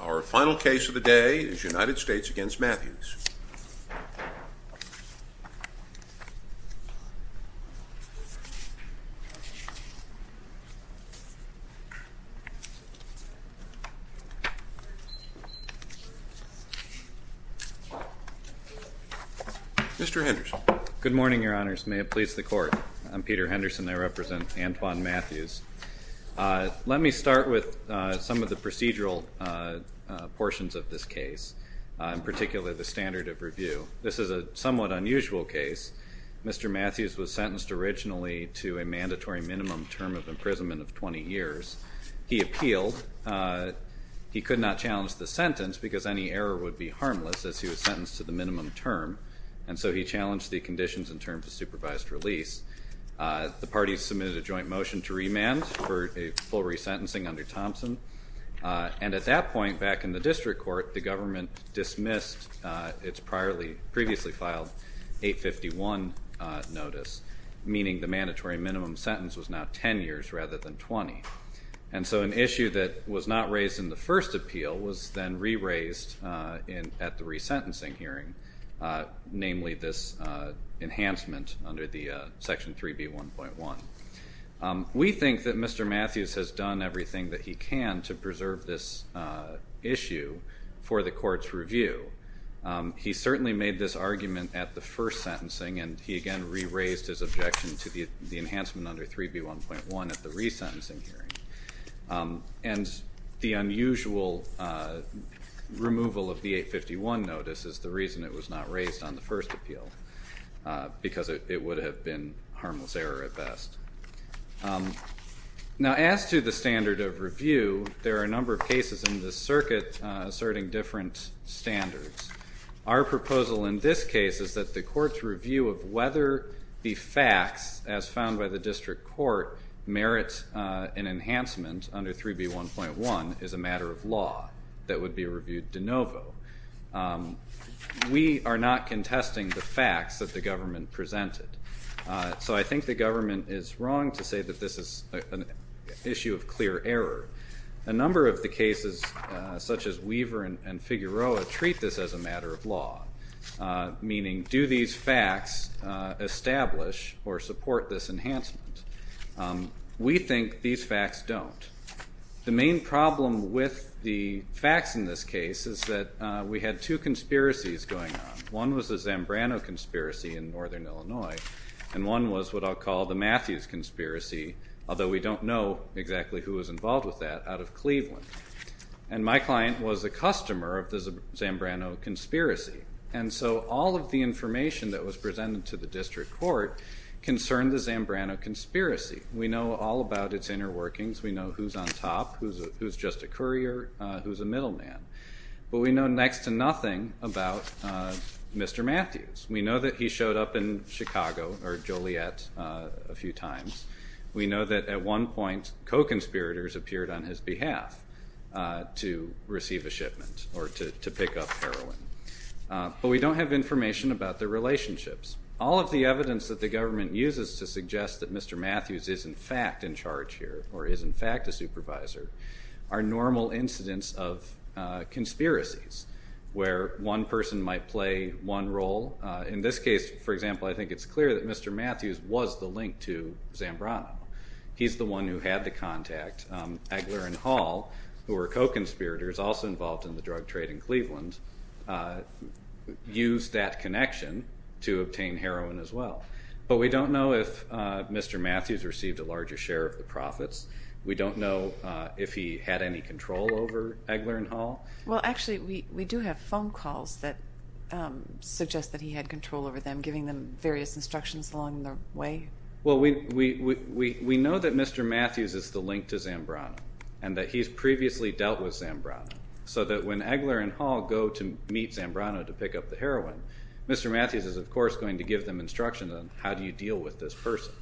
Our final case of the day is United States v. Matthews. Mr. Henderson. Good morning, Your Honors. May it please the Court. I'm Peter Henderson. I represent Antoine Matthews. Let me start with some of the procedural portions of this case, in particular the standard of review. This is a somewhat unusual case. Mr. Matthews was sentenced originally to a mandatory minimum term of imprisonment of 20 years. He appealed. He could not challenge the sentence because any error would be harmless as he was sentenced to the minimum term, and so he challenged the conditions in terms of supervised release. The parties submitted a joint motion to remand for a full resentencing under Thompson, and at that point back in the district court, the government dismissed its previously filed 851 notice, meaning the mandatory minimum sentence was now 10 years rather than 20. And so an issue that was not raised in the first appeal was then re-raised at the resentencing hearing, namely this enhancement under the Section 3B1.1. We think that Mr. Matthews has done everything that he can to preserve this issue for the court's review. He certainly made this argument at the first sentencing, and he again re-raised his objection to the enhancement under 3B1.1 at the resentencing hearing. And the unusual removal of the 851 notice is the reason it was not raised on the first appeal, because it would have been harmless error at best. Now as to the standard of review, there are a number of cases in this circuit asserting different standards. Our proposal in this case is that the court's review of whether the facts, as found by the district court, merit an enhancement under 3B1.1 is a matter of law that would be reviewed de novo. We are not contesting the facts that the government presented, so I think the government is wrong to say that this is an issue of clear error. A number of the cases, such as Weaver and Figueroa, treat this as a matter of law, meaning do these facts establish or support this enhancement? We think these facts don't. The main problem with the facts in this case is that we had two conspiracies going on. One was the Zambrano conspiracy in Northern Illinois, and one was what I'll call the Matthews conspiracy, although we don't know exactly who was involved with that, out of Cleveland. And my client was a customer of the Zambrano conspiracy, and so all of the information that was presented to the district court concerned the Zambrano conspiracy. We know all about its inner workings. We know who's on top, who's just a courier, who's a middleman. But we know next to nothing about Mr. Matthews. We know that he showed up in Chicago, or Joliet, a few times. We know that at one point co-conspirators appeared on his behalf to receive a shipment or to pick up heroin. But we don't have information about their relationships. All of the evidence that the government uses to suggest that Mr. Matthews is in fact in charge here or is in fact a supervisor are normal incidents of conspiracies where one person might play one role. In this case, for example, I think it's clear that Mr. Matthews was the link to Zambrano. He's the one who had the contact. Egler and Hall, who were co-conspirators, also involved in the drug trade in Cleveland, used that connection to obtain heroin as well. But we don't know if Mr. Matthews received a larger share of the profits. We don't know if he had any control over Egler and Hall. Well, actually, we do have phone calls that suggest that he had control over them, giving them various instructions along the way. Well, we know that Mr. Matthews is the link to Zambrano and that he's previously dealt with Zambrano, so that when Egler and Hall go to meet Zambrano to pick up the heroin, Mr. Matthews is, of course, going to give them instructions on how do you deal with this person.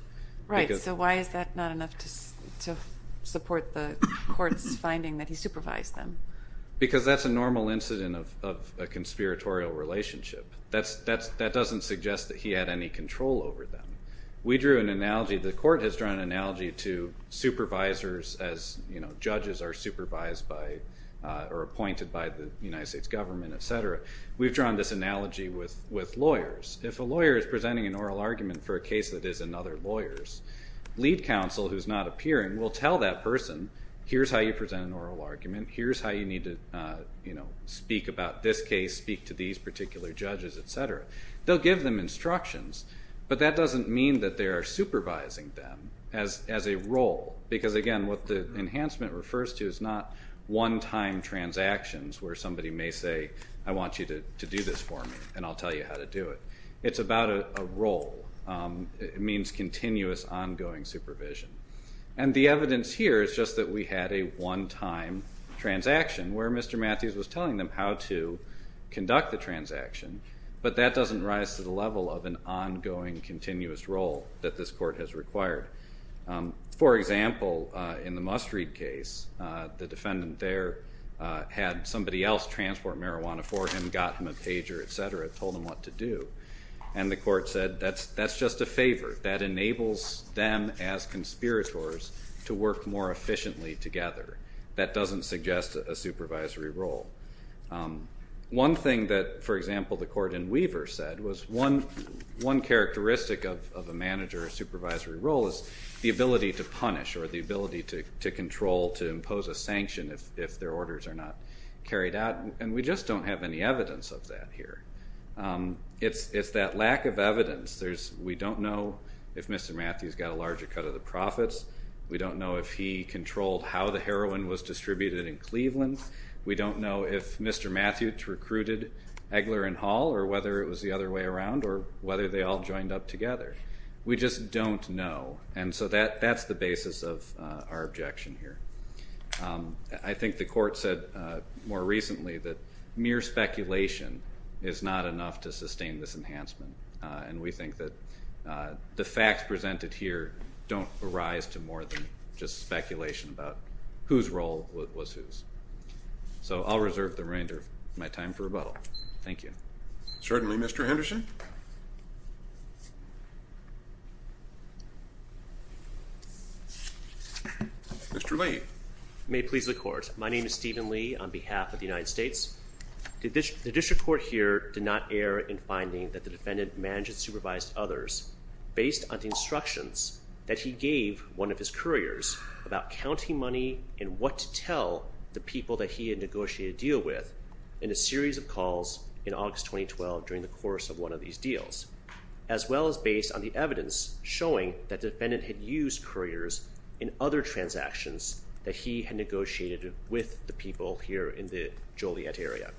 Right, so why is that not enough to support the court's finding that he supervised them? Because that's a normal incident of a conspiratorial relationship. That doesn't suggest that he had any control over them. We drew an analogy. The court has drawn an analogy to supervisors as judges are supervised by or appointed by the United States government, et cetera. We've drawn this analogy with lawyers. If a lawyer is presenting an oral argument for a case that is another lawyer's, lead counsel, who's not appearing, will tell that person, here's how you present an oral argument, here's how you need to speak about this case, speak to these particular judges, et cetera. They'll give them instructions, but that doesn't mean that they are supervising them as a role. Because, again, what the enhancement refers to is not one-time transactions where somebody may say, I want you to do this for me and I'll tell you how to do it. It's about a role. It means continuous, ongoing supervision. And the evidence here is just that we had a one-time transaction where Mr. Matthews was telling them how to conduct the transaction, but that doesn't rise to the level of an ongoing, continuous role that this court has required. For example, in the Must Read case, the defendant there had somebody else transport marijuana for him, got him a pager, et cetera, told him what to do. And the court said, that's just a favor. That enables them as conspirators to work more efficiently together. That doesn't suggest a supervisory role. One thing that, for example, the court in Weaver said was one characteristic of a manager or supervisory role is the ability to punish or the ability to control, to impose a sanction if their orders are not carried out. And we just don't have any evidence of that here. It's that lack of evidence. We don't know if Mr. Matthews got a larger cut of the profits. We don't know if he controlled how the heroin was distributed in Cleveland. We don't know if Mr. Matthews recruited Eggler and Hall or whether it was the other way around or whether they all joined up together. We just don't know. And so that's the basis of our objection here. I think the court said more recently that mere speculation is not enough to sustain this enhancement. And we think that the facts presented here don't arise to more than just speculation about whose role was whose. So I'll reserve the remainder of my time for rebuttal. Thank you. Certainly, Mr. Henderson. Mr. Lee. May it please the Court. My name is Stephen Lee on behalf of the United States. The district court here did not err in finding that the defendant managed and supervised others based on the instructions that he gave one of his couriers about counting money and what to tell the people that he had negotiated a deal with in a series of calls in August 2012 during the course of one of these deals, as well as based on the evidence showing that the defendant had used couriers in other transactions that he had negotiated with the people here in the Joliet area.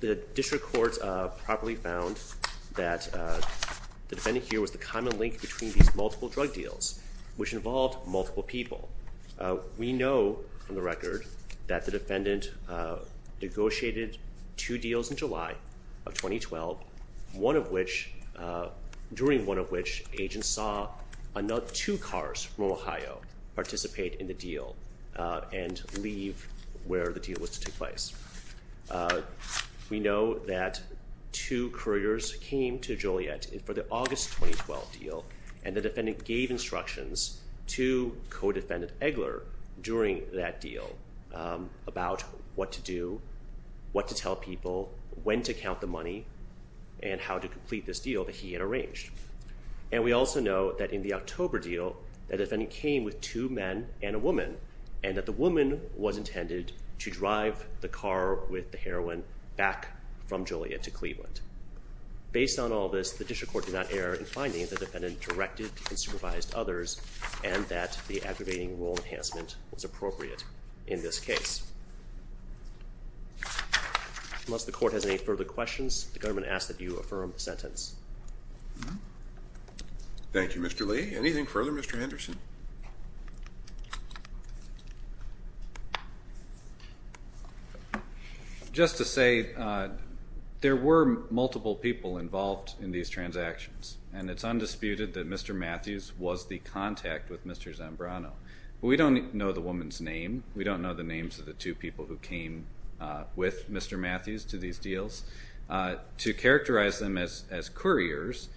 The district court properly found that the defendant here was the common link between these multiple drug deals, which involved multiple people. We know from the record that the defendant negotiated two deals in July of 2012, during one of which agents saw two cars from Ohio participate in the deal and leave where the deal was to take place. We know that two couriers came to Joliet for the August 2012 deal, and the defendant gave instructions to co-defendant Eggler during that deal about what to do, what to tell people, when to count the money, and how to complete this deal that he had arranged. And we also know that in the October deal, the defendant came with two men and a woman, and that the woman was intended to drive the car with the heroin back from Joliet to Cleveland. Based on all this, the district court did not err in finding that the defendant directed and supervised others, and that the aggravating rule enhancement was appropriate in this case. Unless the court has any further questions, the government asks that you affirm the sentence. Thank you, Mr. Lee. Anything further, Mr. Henderson? Just to say, there were multiple people involved in these transactions, and it's undisputed that Mr. Matthews was the contact with Mr. Zambrano. We don't know the woman's name. We don't know the names of the two people who came with Mr. Matthews to these deals. To characterize them as couriers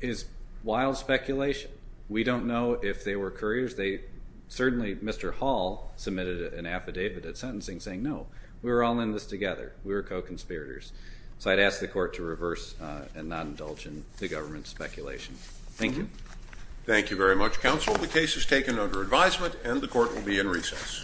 is wild speculation. We don't know if they were couriers. Certainly, Mr. Hall submitted an affidavit at sentencing saying, no, we were all in this together. We were co-conspirators. So I'd ask the court to reverse and not indulge in the government's speculation. Thank you. Thank you very much, counsel. The case is taken under advisement, and the court will be in recess. Thank you.